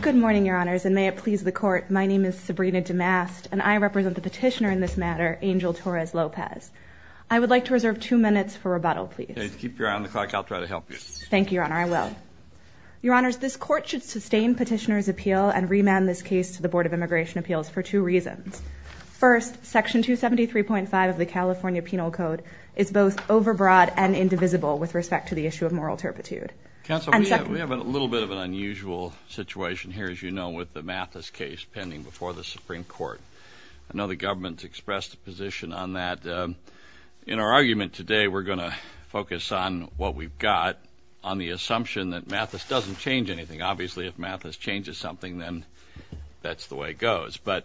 Good morning, Your Honors, and may it please the Court, my name is Sabrina DeMast, and I represent the petitioner in this matter, Angel Torres Lopez. I would like to reserve two minutes for rebuttal, please. Keep your eye on the clock, I'll try to help you. Thank you, Your Honor, I will. Your Honors, this Court should sustain petitioner's appeal and remand this case to the Board of Immigration Appeals for two reasons. First, Section 273.5 of the California Penal Code is both overbroad and indivisible with respect to the issue of moral turpitude. Counsel, we have a little bit of an unusual situation here, as you know, with the Mathis case pending before the Supreme Court. I know the government's expressed a position on that. In our argument today, we're going to focus on what we've got, on the assumption that Mathis doesn't change anything. Obviously, if Mathis changes something, then that's the way it goes, but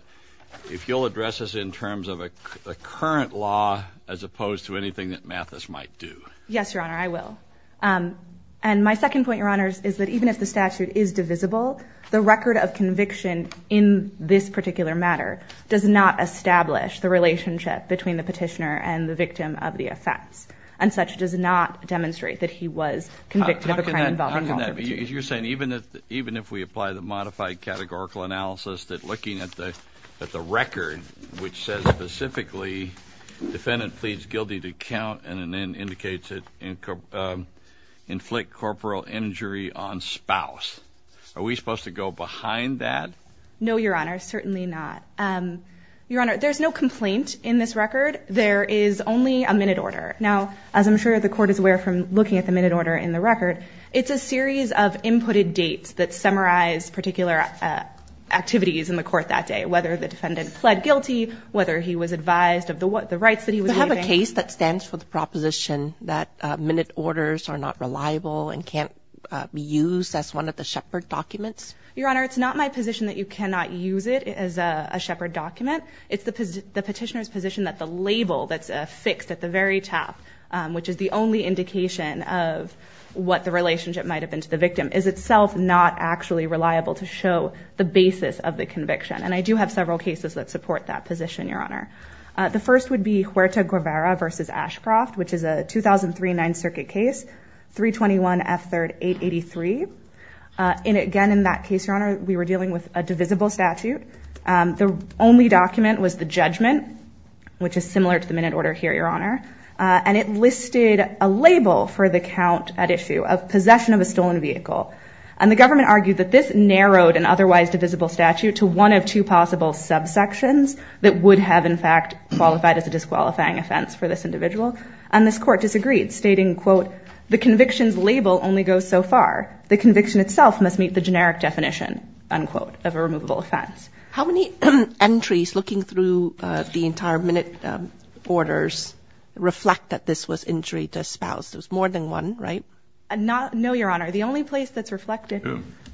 if you'll address this in terms of a current law as opposed to anything that Mathis might do. Yes, Your Honor, I will. And my second point, Your Honors, is that even if the statute is divisible, the record of conviction in this particular matter does not establish the relationship between the petitioner and the victim of the offense, and such does not demonstrate that he was convicted of a crime involving moral turpitude. You're saying even if we apply the modified categorical analysis that looking at the record, which says specifically, defendant pleads guilty to count, and then indicates it inflict corporal injury on spouse. Are we supposed to go behind that? No, Your Honor, certainly not. Your Honor, there's no complaint in this record. There is only a minute order. Now, as I'm sure the Court is aware from looking at the minute order in the record, it's a series of inputted dates that summarize particular activities in the Court that day, whether the defendant pled guilty, whether he was advised of the rights that he was waiving. Do you have a case that stands for the proposition that minute orders are not reliable and can't be used as one of the shepherd documents? Your Honor, it's not my position that you cannot use it as a shepherd document. It's the petitioner's position that the label that's affixed at the very top, which is the only indication of what the relationship might have been to the victim, is itself not actually reliable to show the basis of the conviction. And I do have several cases that support that position, Your Honor. The first would be Huerta-Guevara v. Ashcroft, which is a 2003 Ninth Circuit case, 321 F. 3rd 883. And again, in that case, Your Honor, we were dealing with a divisible statute. The only document was the judgment, which is similar to the minute order here, Your Honor. And it listed a label for the count at issue of possession of a stolen vehicle. And the government argued that this narrowed an otherwise divisible statute to one of two possible subsections that would have, in fact, qualified as a disqualifying offense for this individual. And this court disagreed, stating, quote, the conviction's label only goes so far. The conviction itself must meet the generic definition, unquote, of a removable offense. How many entries looking through the entire minute orders reflect that this was injury to a spouse? There's more than one, right? No, Your Honor. The only place that's reflected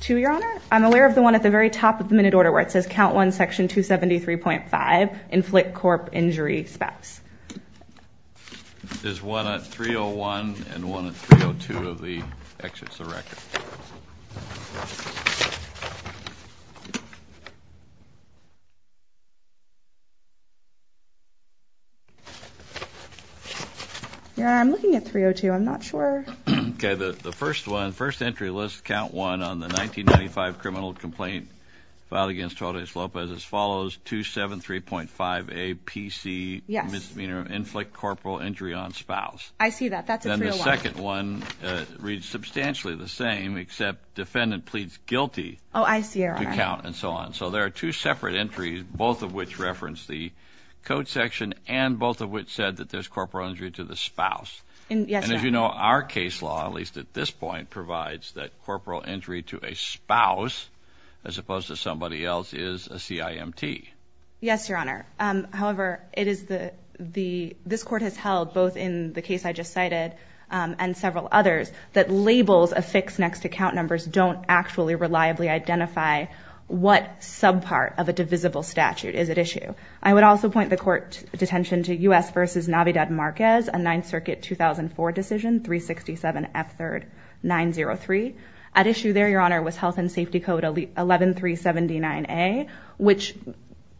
to, Your Honor, I'm aware of the one at the very top of the minute order, where it says, count one, section 273.5, inflict corp injury spouse. There's one at 301 and one at 302 of the exits of record. Your Honor, I'm looking at 302. I'm not sure. Okay. The first one, first entry list, count one on the 1995 criminal complaint filed against Torres Lopez as follows, 273.5A, PC, misdemeanor, inflict corporal injury on spouse. I see that. That's at 301. And the second one reads substantially the same, except defendant pleads guilty to count and so on. Oh, I see, Your Honor. So there are two separate entries, both of which reference the code section and both of which said that there's corporal injury to the spouse. Yes, Your Honor. And as you know, our case law, at least at this point, provides that corporal injury to a spouse, as opposed to somebody else is a CIMT. Yes, Your Honor. However, this court has held, both in the case I just cited and several others, that labels affixed next to count numbers don't actually reliably identify what subpart of a divisible statute is at issue. I would also point the court detention to US v. Navidad Marquez, a Ninth Circuit 2004 decision, 367F3rd903. At issue there, Your Honor, was Health and Safety Code 11379A, which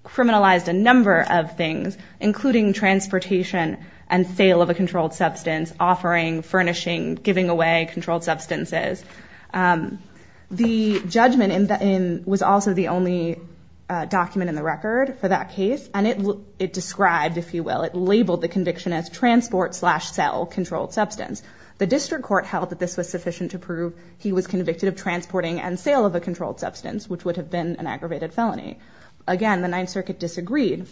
criminalized a number of things, including transportation and sale of a controlled substance, offering, furnishing, giving away controlled substances. The judgment was also the only document in the record for that case, and it described, if you will, it labeled the conviction as transport slash sell controlled substance. The district court held that this was sufficient to prove he was convicted of transporting and sale of a controlled substance, which would have been an aggravated felony. Again, the Ninth Circuit disagreed,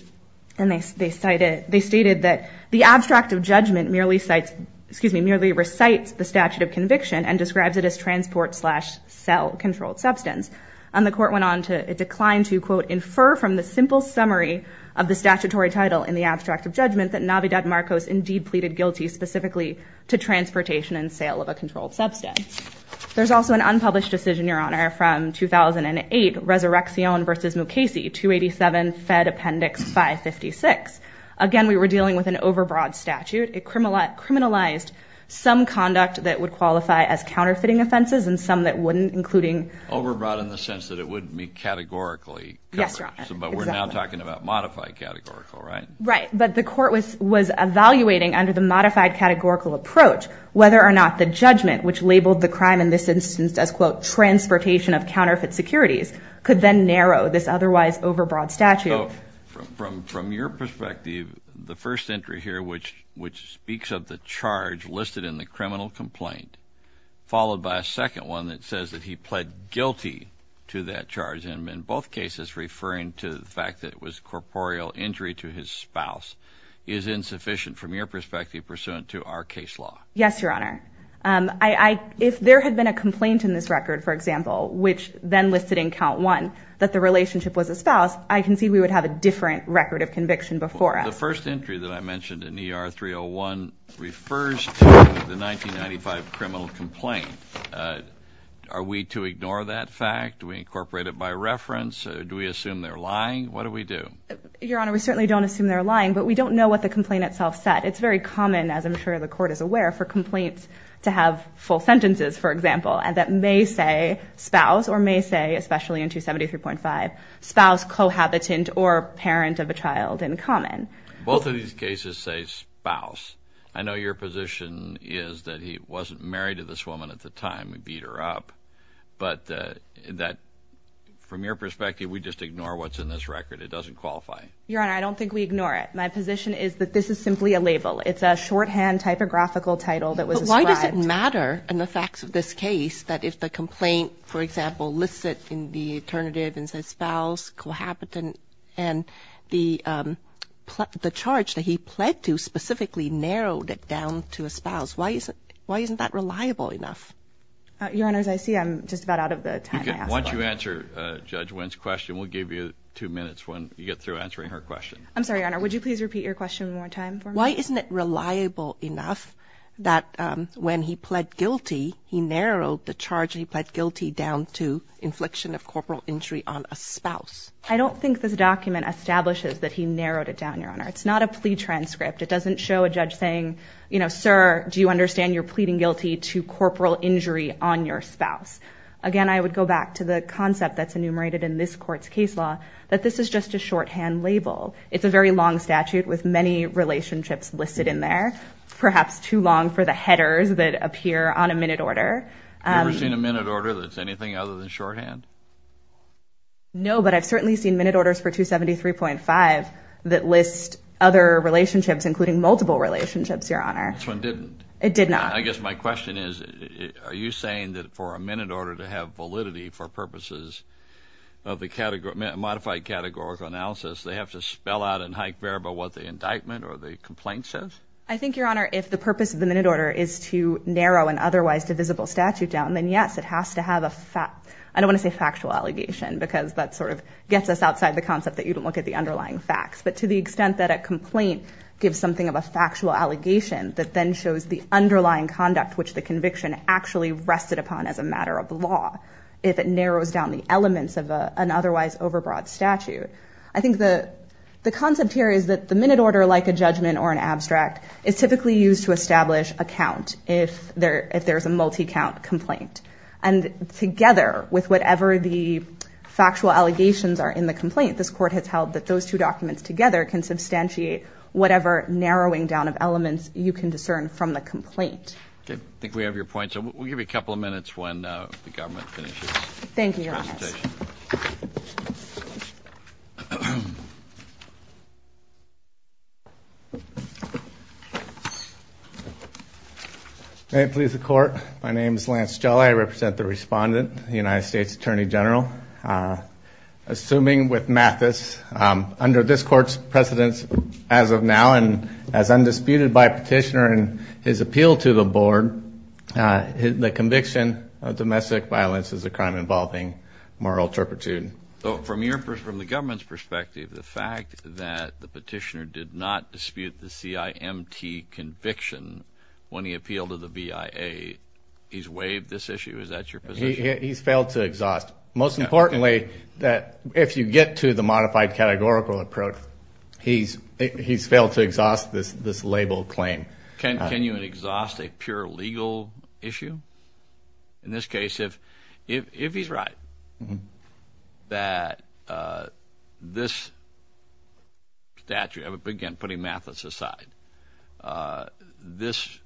and they stated that the abstract of judgment merely recites the statute of conviction and describes it as transport slash sell controlled substance. And the court went on to decline to, quote, infer from the simple summary of the statutory title in the abstract of judgment that Navidad Marquez indeed pleaded guilty specifically to transportation and sale of a controlled substance. There's also an unpublished decision, Your Honor, from 2008, Resurreccion v. Mukasey, 287 Fed Appendix 556. Again, we were dealing with an overbroad statute. It criminalized some conduct that would qualify as counterfeiting offenses and some that wouldn't, including... Overbroad in the sense that it wouldn't be categorically covered. Yes, Your Honor, exactly. But we're now talking about modified categorical, right? Right. But the court was was evaluating under the modified categorical approach whether or not the judgment, which labeled the crime in this instance as, quote, transportation of counterfeit securities, could then narrow this otherwise overbroad statute. So from your perspective, the first entry here, which which speaks of the charge listed in the criminal complaint, followed by a second one that says that he pled guilty to that case, is referring to the fact that it was corporeal injury to his spouse, is insufficient from your perspective pursuant to our case law? Yes, Your Honor, if there had been a complaint in this record, for example, which then listed in count one that the relationship was a spouse, I concede we would have a different record of conviction before us. The first entry that I mentioned in ER 301 refers to the 1995 criminal complaint. Are we to ignore that fact? Do we incorporate it by reference? Do we assume they're lying? What do we do? Your Honor, we certainly don't assume they're lying, but we don't know what the complaint itself said. It's very common, as I'm sure the court is aware, for complaints to have full sentences, for example, and that may say spouse or may say, especially in 273.5, spouse, cohabitant or parent of a child in common. Both of these cases say spouse. I know your position is that he wasn't married to this woman at the time. We beat her up, but that from your perspective, we just ignore what's in this record. It doesn't qualify. Your Honor, I don't think we ignore it. My position is that this is simply a label. It's a shorthand typographical title that was. Why does it matter in the facts of this case that if the complaint, for example, lists it in the alternative and says spouse, cohabitant and the the charge that he pled to specifically narrowed it down to a spouse? Why is it why isn't that reliable enough? Your Honor, as I see, I'm just about out of the time. Once you answer Judge Wynn's question, we'll give you two minutes when you get through answering her question. I'm sorry, Your Honor. Would you please repeat your question one more time? Why isn't it reliable enough that when he pled guilty, he narrowed the charge he pled guilty down to infliction of corporal injury on a spouse? I don't think this document establishes that he narrowed it down, Your Honor. It's not a plea transcript. It doesn't show a judge saying, you know, sir, do you understand you're pleading guilty to corporal injury on your spouse? Again, I would go back to the concept that's enumerated in this court's case law, that this is just a shorthand label. It's a very long statute with many relationships listed in there, perhaps too long for the headers that appear on a minute order. Have you ever seen a minute order that's anything other than shorthand? No, but I've certainly seen minute orders for 273.5 that list other relationships, including multiple relationships, Your Honor. This one didn't. It did not. I guess my question is, are you saying that for a minute order to have validity for purposes of the modified categorical analysis, they have to spell out in high variable what the indictment or the complaint says? I think, Your Honor, if the purpose of the minute order is to narrow an otherwise divisible statute down, then yes, it has to have a fact. I don't want to say factual allegation because that sort of gets us outside the concept that you don't look at the underlying facts. But to the extent that a complaint gives something of a factual allegation that then shows the underlying conduct, which the conviction actually rested upon as a matter of law, if it narrows down the elements of an otherwise overbroad statute. I think the concept here is that the minute order, like a judgment or an abstract, is typically used to establish a count if there's a multi-count complaint. And together with whatever the factual allegations are in the complaint, this court has held that those two documents together can substantiate whatever narrowing down of elements you can discern from the complaint. Okay. I think we have your point. So we'll give you a couple of minutes when the government finishes. Thank you, Your Honor. May it please the court. My name is Lance Jelle. I represent the respondent, the United States Attorney General. Assuming with Mathis, under this court's precedence as of now and as undisputed by petitioner and his appeal to the board, the conviction of domestic violence is a crime involving moral turpitude. So from the government's perspective, the fact that the petitioner did not dispute the CIMT conviction when he appealed to the BIA, he's waived this issue? Is that your position? He's failed to exhaust. Most importantly, that if you get to the modified categorical approach, he's failed to exhaust this label claim. Can you exhaust a pure legal issue? In this case, if he's right, that this statute, again, putting Mathis aside, this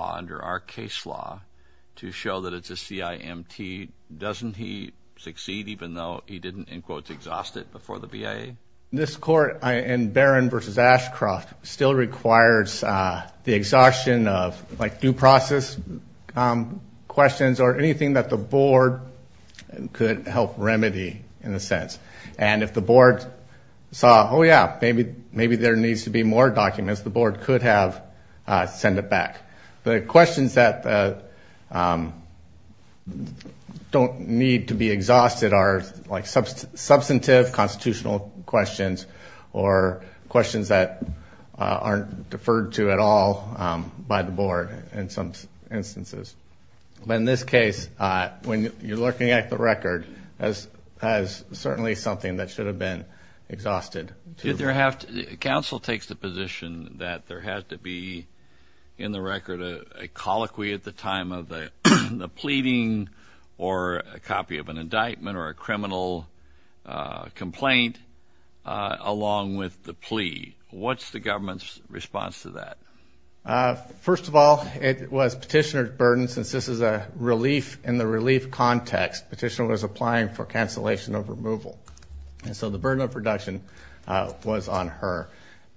under our case law to show that it's a CIMT, doesn't he succeed even though he didn't, in quotes, exhaust it before the BIA? This court in Barron v. Ashcroft still requires the exhaustion of like due process questions or anything that the board could help remedy in a sense. And if the board saw, oh yeah, maybe there needs to be more documents, the board could have sent it back. The questions that don't need to be exhausted are like substantive constitutional questions or questions that aren't deferred to at all by the board in some instances. But in this case, when you're looking at the record as certainly something that should have been exhausted. Council takes the position that there has to be in the record a colloquy at the time of the pleading or a copy of an indictment or a criminal complaint along with the plea. What's the government's response to that? First of all, it was petitioner's burden since this is a relief in the relief context, petitioner was applying for cancellation of removal. And so the burden of reduction was on her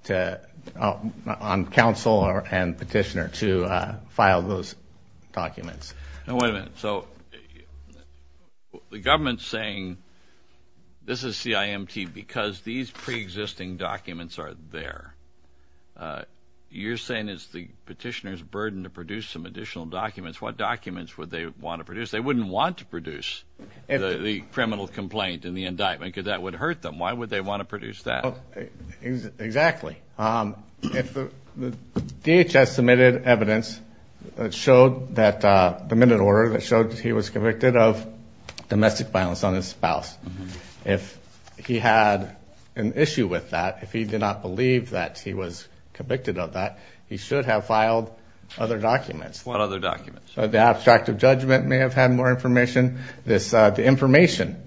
to, on council and petitioner to file those documents. Now, wait a minute. So the government's saying this is CIMT because these preexisting documents are there, you're saying it's the petitioner's burden to produce some additional documents, what documents would they want to produce? They wouldn't want to produce the criminal complaint and the indictment because that would hurt them. Why would they want to produce that? Exactly. If the DHS submitted evidence that showed that the minute order that showed he was convicted of domestic violence on his spouse, if he had an issue with that, if he did not believe that he was convicted of that, he should have filed other documents. What other documents? So the abstract of judgment may have had more information. This, the information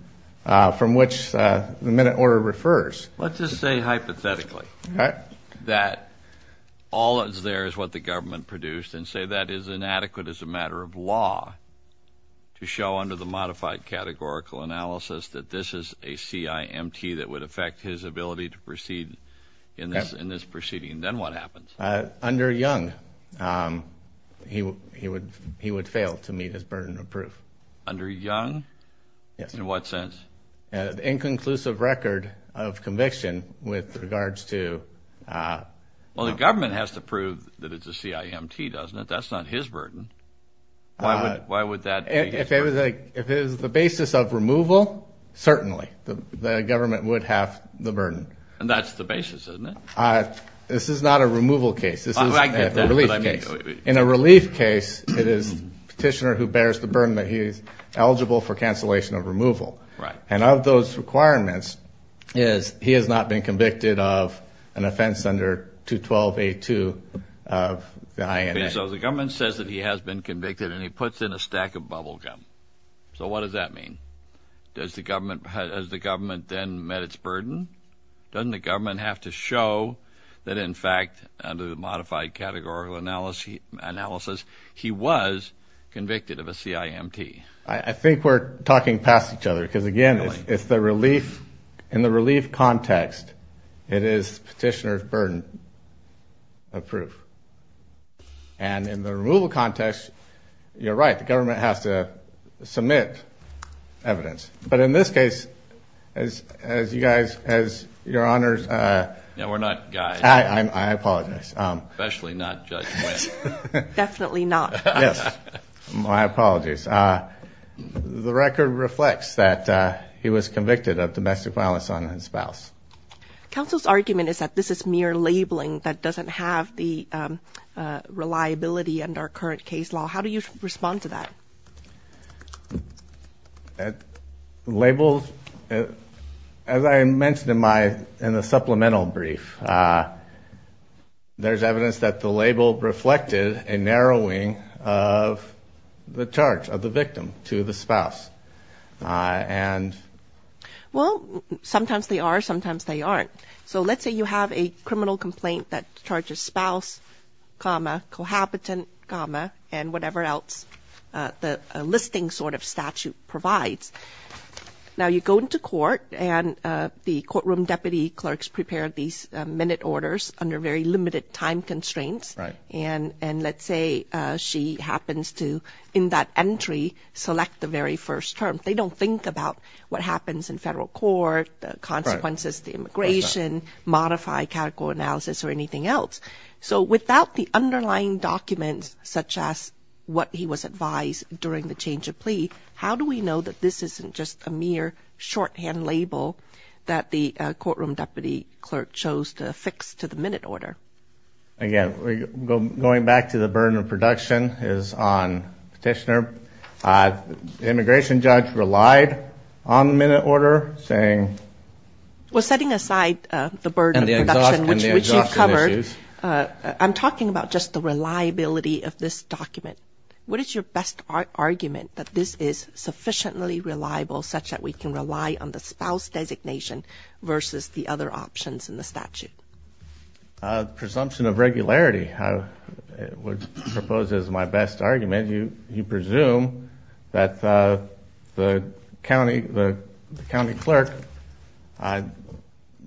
from which the minute order refers. Let's just say hypothetically that all is there is what the government produced and say that is inadequate as a matter of law to show under the modified categorical analysis that this is a CIMT that would affect his ability to proceed in this, in this proceeding. Then what happens? Under Young, he would, he would, he would fail to meet his burden of proof. Under Young? Yes. In what sense? An inconclusive record of conviction with regards to... Well, the government has to prove that it's a CIMT, doesn't it? That's not his burden. Why would, why would that be his burden? If it was the basis of removal, certainly the government would have the burden. And that's the basis, isn't it? This is not a removal case. This is a relief case. In a relief case, it is petitioner who bears the burden that he is eligible for cancellation of removal. And of those requirements is he has not been convicted of an offense under 212A2 of the INS. So the government says that he has been convicted and he puts in a stack of bubble gum. So what does that mean? Does the government, has the government then met its burden? Doesn't the government have to show that in fact, under the modified categorical analysis, he was convicted of a CIMT? I think we're talking past each other because again, it's the relief. In the relief context, it is petitioner's burden of proof. And in the removal context, you're right. The government has to submit evidence. But in this case, as you guys, as your honors... No, we're not guys. I apologize. Especially not Judge Blank. Definitely not. Yes. My apologies. The record reflects that he was convicted of domestic violence on his spouse. Counsel's argument is that this is mere labeling that doesn't have the reliability and our current case law. How do you respond to that? Labels, as I mentioned in my, in the supplemental brief, there's evidence that the label reflected a narrowing of the charge of the victim to the spouse. Well, sometimes they are, sometimes they aren't. So let's say you have a criminal complaint that charges spouse, comma, cohabitant, comma, and whatever else the listing sort of statute provides. Now you go into court and the courtroom deputy clerks prepare these minute orders under very limited time constraints. And, and let's say she happens to, in that entry, select the very first term. They don't think about what happens in federal court, the consequences, the immigration, modify categorical analysis or anything else. So without the underlying documents, such as what he was advised during the change of plea, how do we know that this isn't just a mere shorthand label that the courtroom deputy clerk chose to fix to the minute order? Again, going back to the burden of production is on petitioner. The immigration judge relied on the minute order saying. Well, setting aside the burden of production, which you covered, I'm talking about just the reliability of this document. What is your best argument that this is sufficiently reliable such that we can rely on the spouse designation versus the other options in the statute? A presumption of regularity. I would propose as my best argument. You, you presume that the county, the county clerk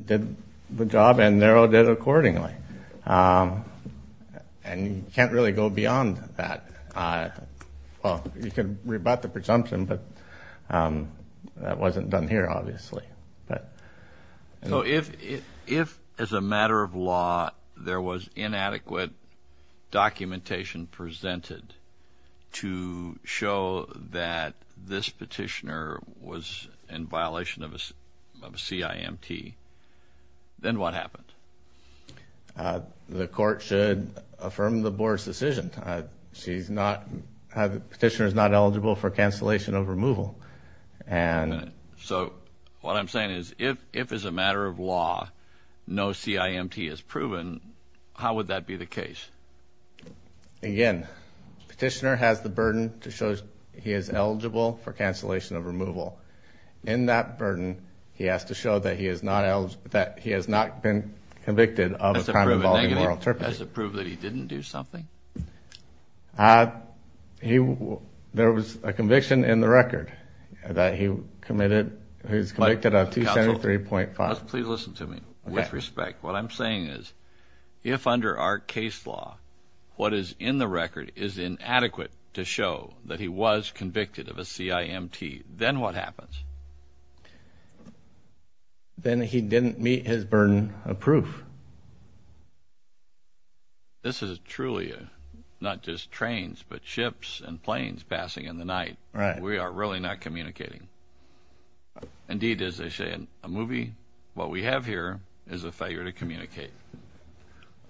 did the job and narrowed it accordingly. Um, and you can't really go beyond that. Uh, well, you can rebut the presumption, but, um, that wasn't done here, obviously. But if, if, if as a matter of law, there was inadequate documentation presented to show that this petitioner was in violation of a CIMT, then what happened? Uh, the court should affirm the board's decision. She's not, the petitioner is not eligible for cancellation of removal. And so what I'm saying is if, if as a matter of law, no CIMT is proven, how would that be the case? Again, petitioner has the burden to show he is eligible for cancellation of removal. In that burden, he has to show that he is not, that he has not been convicted of a crime involving moral turpitude. That's a proof that he didn't do something? Uh, he, there was a conviction in the record that he committed. He was convicted of 273.5. Please listen to me with respect. What I'm saying is if under our case law, what is in the record is inadequate to show that he was convicted of a CIMT, then what happens? Then he didn't meet his burden of proof. This is a truly, uh, not just trains, but ships and planes passing in the night. Right. We are really not communicating. Indeed, as they say in a movie, what we have here is a failure to communicate.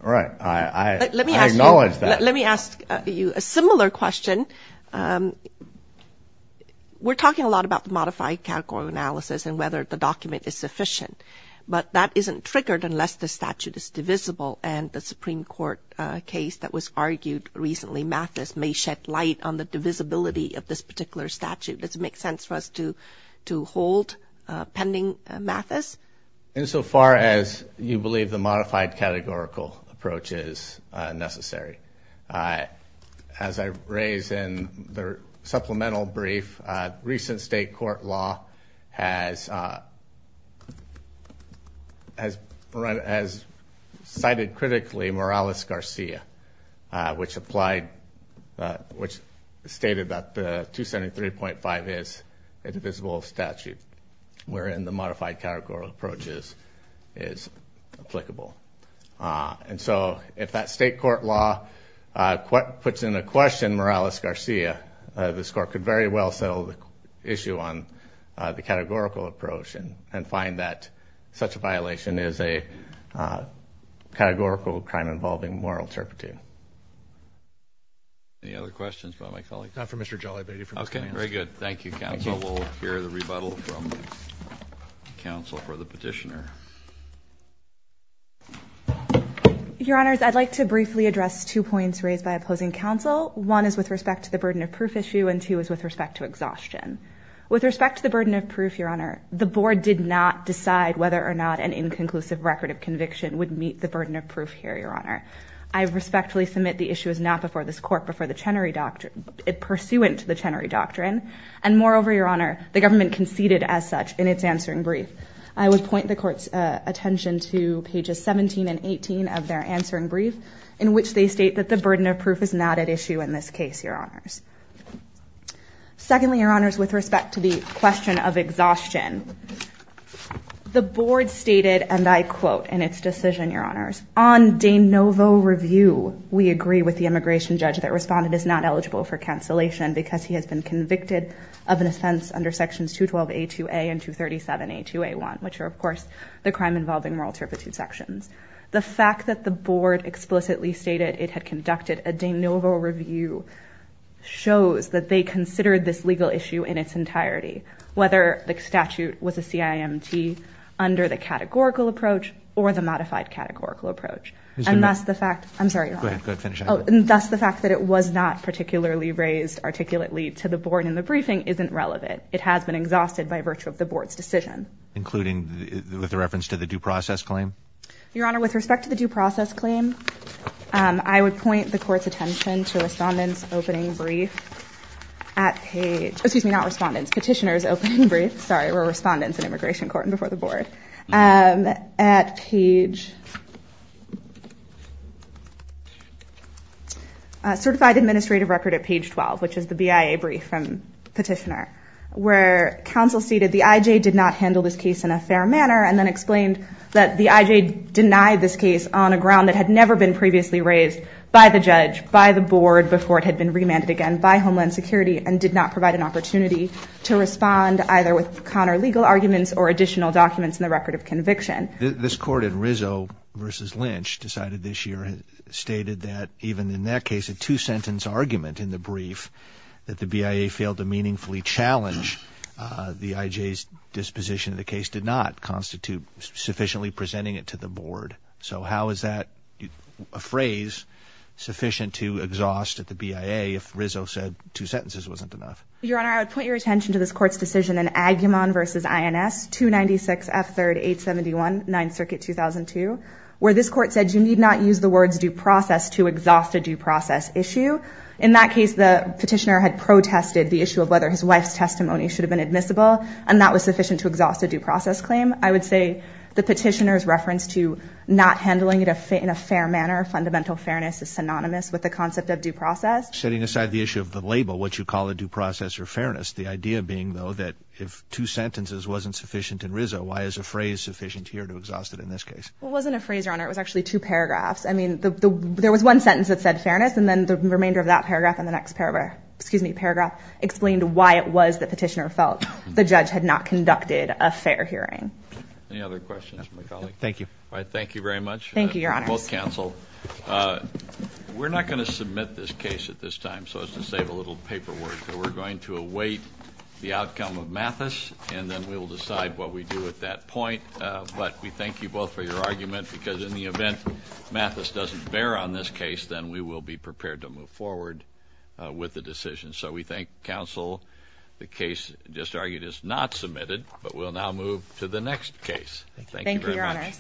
All right. I, I, let me ask you, let me ask you a similar question. Um, we're talking a lot about the modified category of analysis and whether the document is sufficient, but that isn't triggered unless the statute is divisible and the Supreme Court, uh, case that was argued recently, Mathis may shed light on the divisibility of this particular statute. Does it make sense for us to, to hold, uh, pending, uh, Mathis? Insofar as you believe the modified categorical approach is, uh, necessary. Uh, as I raise in the supplemental brief, uh, recent state court law has, uh, has cited critically Morales-Garcia, uh, which applied, uh, which stated that the 273.5 is a divisible statute, wherein the modified categorical approaches is applicable. Uh, and so if that state court law, uh, puts in a question Morales-Garcia, uh, this court could very well settle the issue on, uh, the categorical approach and find that such a violation is a, uh, categorical crime involving moral interpretive. Any other questions by my colleagues? Not from Mr. Jollibee. Okay, very good. Thank you, counsel. We'll hear the rebuttal from counsel for the petitioner. Your honors, I'd like to briefly address two points raised by opposing counsel. One is with respect to the burden of proof issue and two is with respect to exhaustion. With respect to the burden of proof, your honor, the board did not decide whether or not an inconclusive record of conviction would meet the burden of proof here, your honor. I respectfully submit the issue is not before this court before the Chenery doctrine, pursuant to the Chenery doctrine. And moreover, your honor, the government conceded as such in its answering brief. I would point the court's attention to pages 17 and 18 of their answering brief in which they state that the burden of proof is not at issue in this case, your honors. Secondly, your honors, with respect to the question of exhaustion, the board stated, and I quote in its decision, your honors, on de novo review, we agree with the immigration judge that responded is not eligible for cancellation because he has been convicted of an offense under sections 212A2A and 237A2A1, which are, of course, the crime involving moral turpitude sections. The fact that the board explicitly stated it had conducted a de novo review shows that they considered this legal issue in its entirety, whether the statute was a CIMT under the categorical approach or the modified categorical approach. And that's the fact, I'm sorry, your honor, that's the fact that it was not particularly raised articulately to the board in the briefing isn't relevant. It has been exhausted by virtue of the board's decision. Including with the reference to the due process claim? Your honor, with respect to the due process claim, I would point the court's respondents opening brief at page, excuse me, not respondents, petitioners opening brief, sorry, we're respondents in immigration court and before the board. At page certified administrative record at page 12, which is the BIA brief from petitioner, where counsel seated the IJ did not handle this case in a fair manner. And then explained that the IJ denied this case on a ground that had never been previously raised by the judge, by the board, before it had been remanded again by Homeland Security and did not provide an opportunity to respond either with counter legal arguments or additional documents in the record of conviction. This court in Rizzo versus Lynch decided this year, stated that even in that case, a two sentence argument in the brief that the BIA failed to meaningfully challenge the IJ's disposition of the case did not constitute sufficiently presenting it to the board. So how is that a phrase sufficient to exhaust at the BIA? If Rizzo said two sentences wasn't enough. Your honor, I would point your attention to this court's decision in Agumon versus INS 296 F3rd 871, ninth circuit 2002, where this court said you need not use the words due process to exhaust a due process issue. In that case, the petitioner had protested the issue of whether his wife's testimony should have been admissible. And that was sufficient to exhaust a due process claim. I would say the petitioner's reference to not handling it in a fair manner, fundamental fairness is synonymous with the concept of due process. Setting aside the issue of the label, what you call a due process or fairness, the idea being though that if two sentences wasn't sufficient in Rizzo, why is a phrase sufficient here to exhaust it in this case? It wasn't a phrase, your honor. It was actually two paragraphs. I mean, there was one sentence that said fairness and then the remainder of that paragraph and the next paragraph, excuse me, paragraph explained why it was that petitioner felt the judge had not conducted a fair hearing. Any other questions from my colleague? Thank you. All right. Thank you very much. Thank you. Your honor. Well, counsel, uh, we're not going to submit this case at this time. So it's to save a little paperwork that we're going to await the outcome of Mathis and then we will decide what we do at that point. Uh, but we thank you both for your argument because in the event Mathis doesn't bear on this case, then we will be prepared to move forward, uh, with the decision. So we thank counsel. The case just argued is not submitted, but we'll now move to the next case. Thank you very much.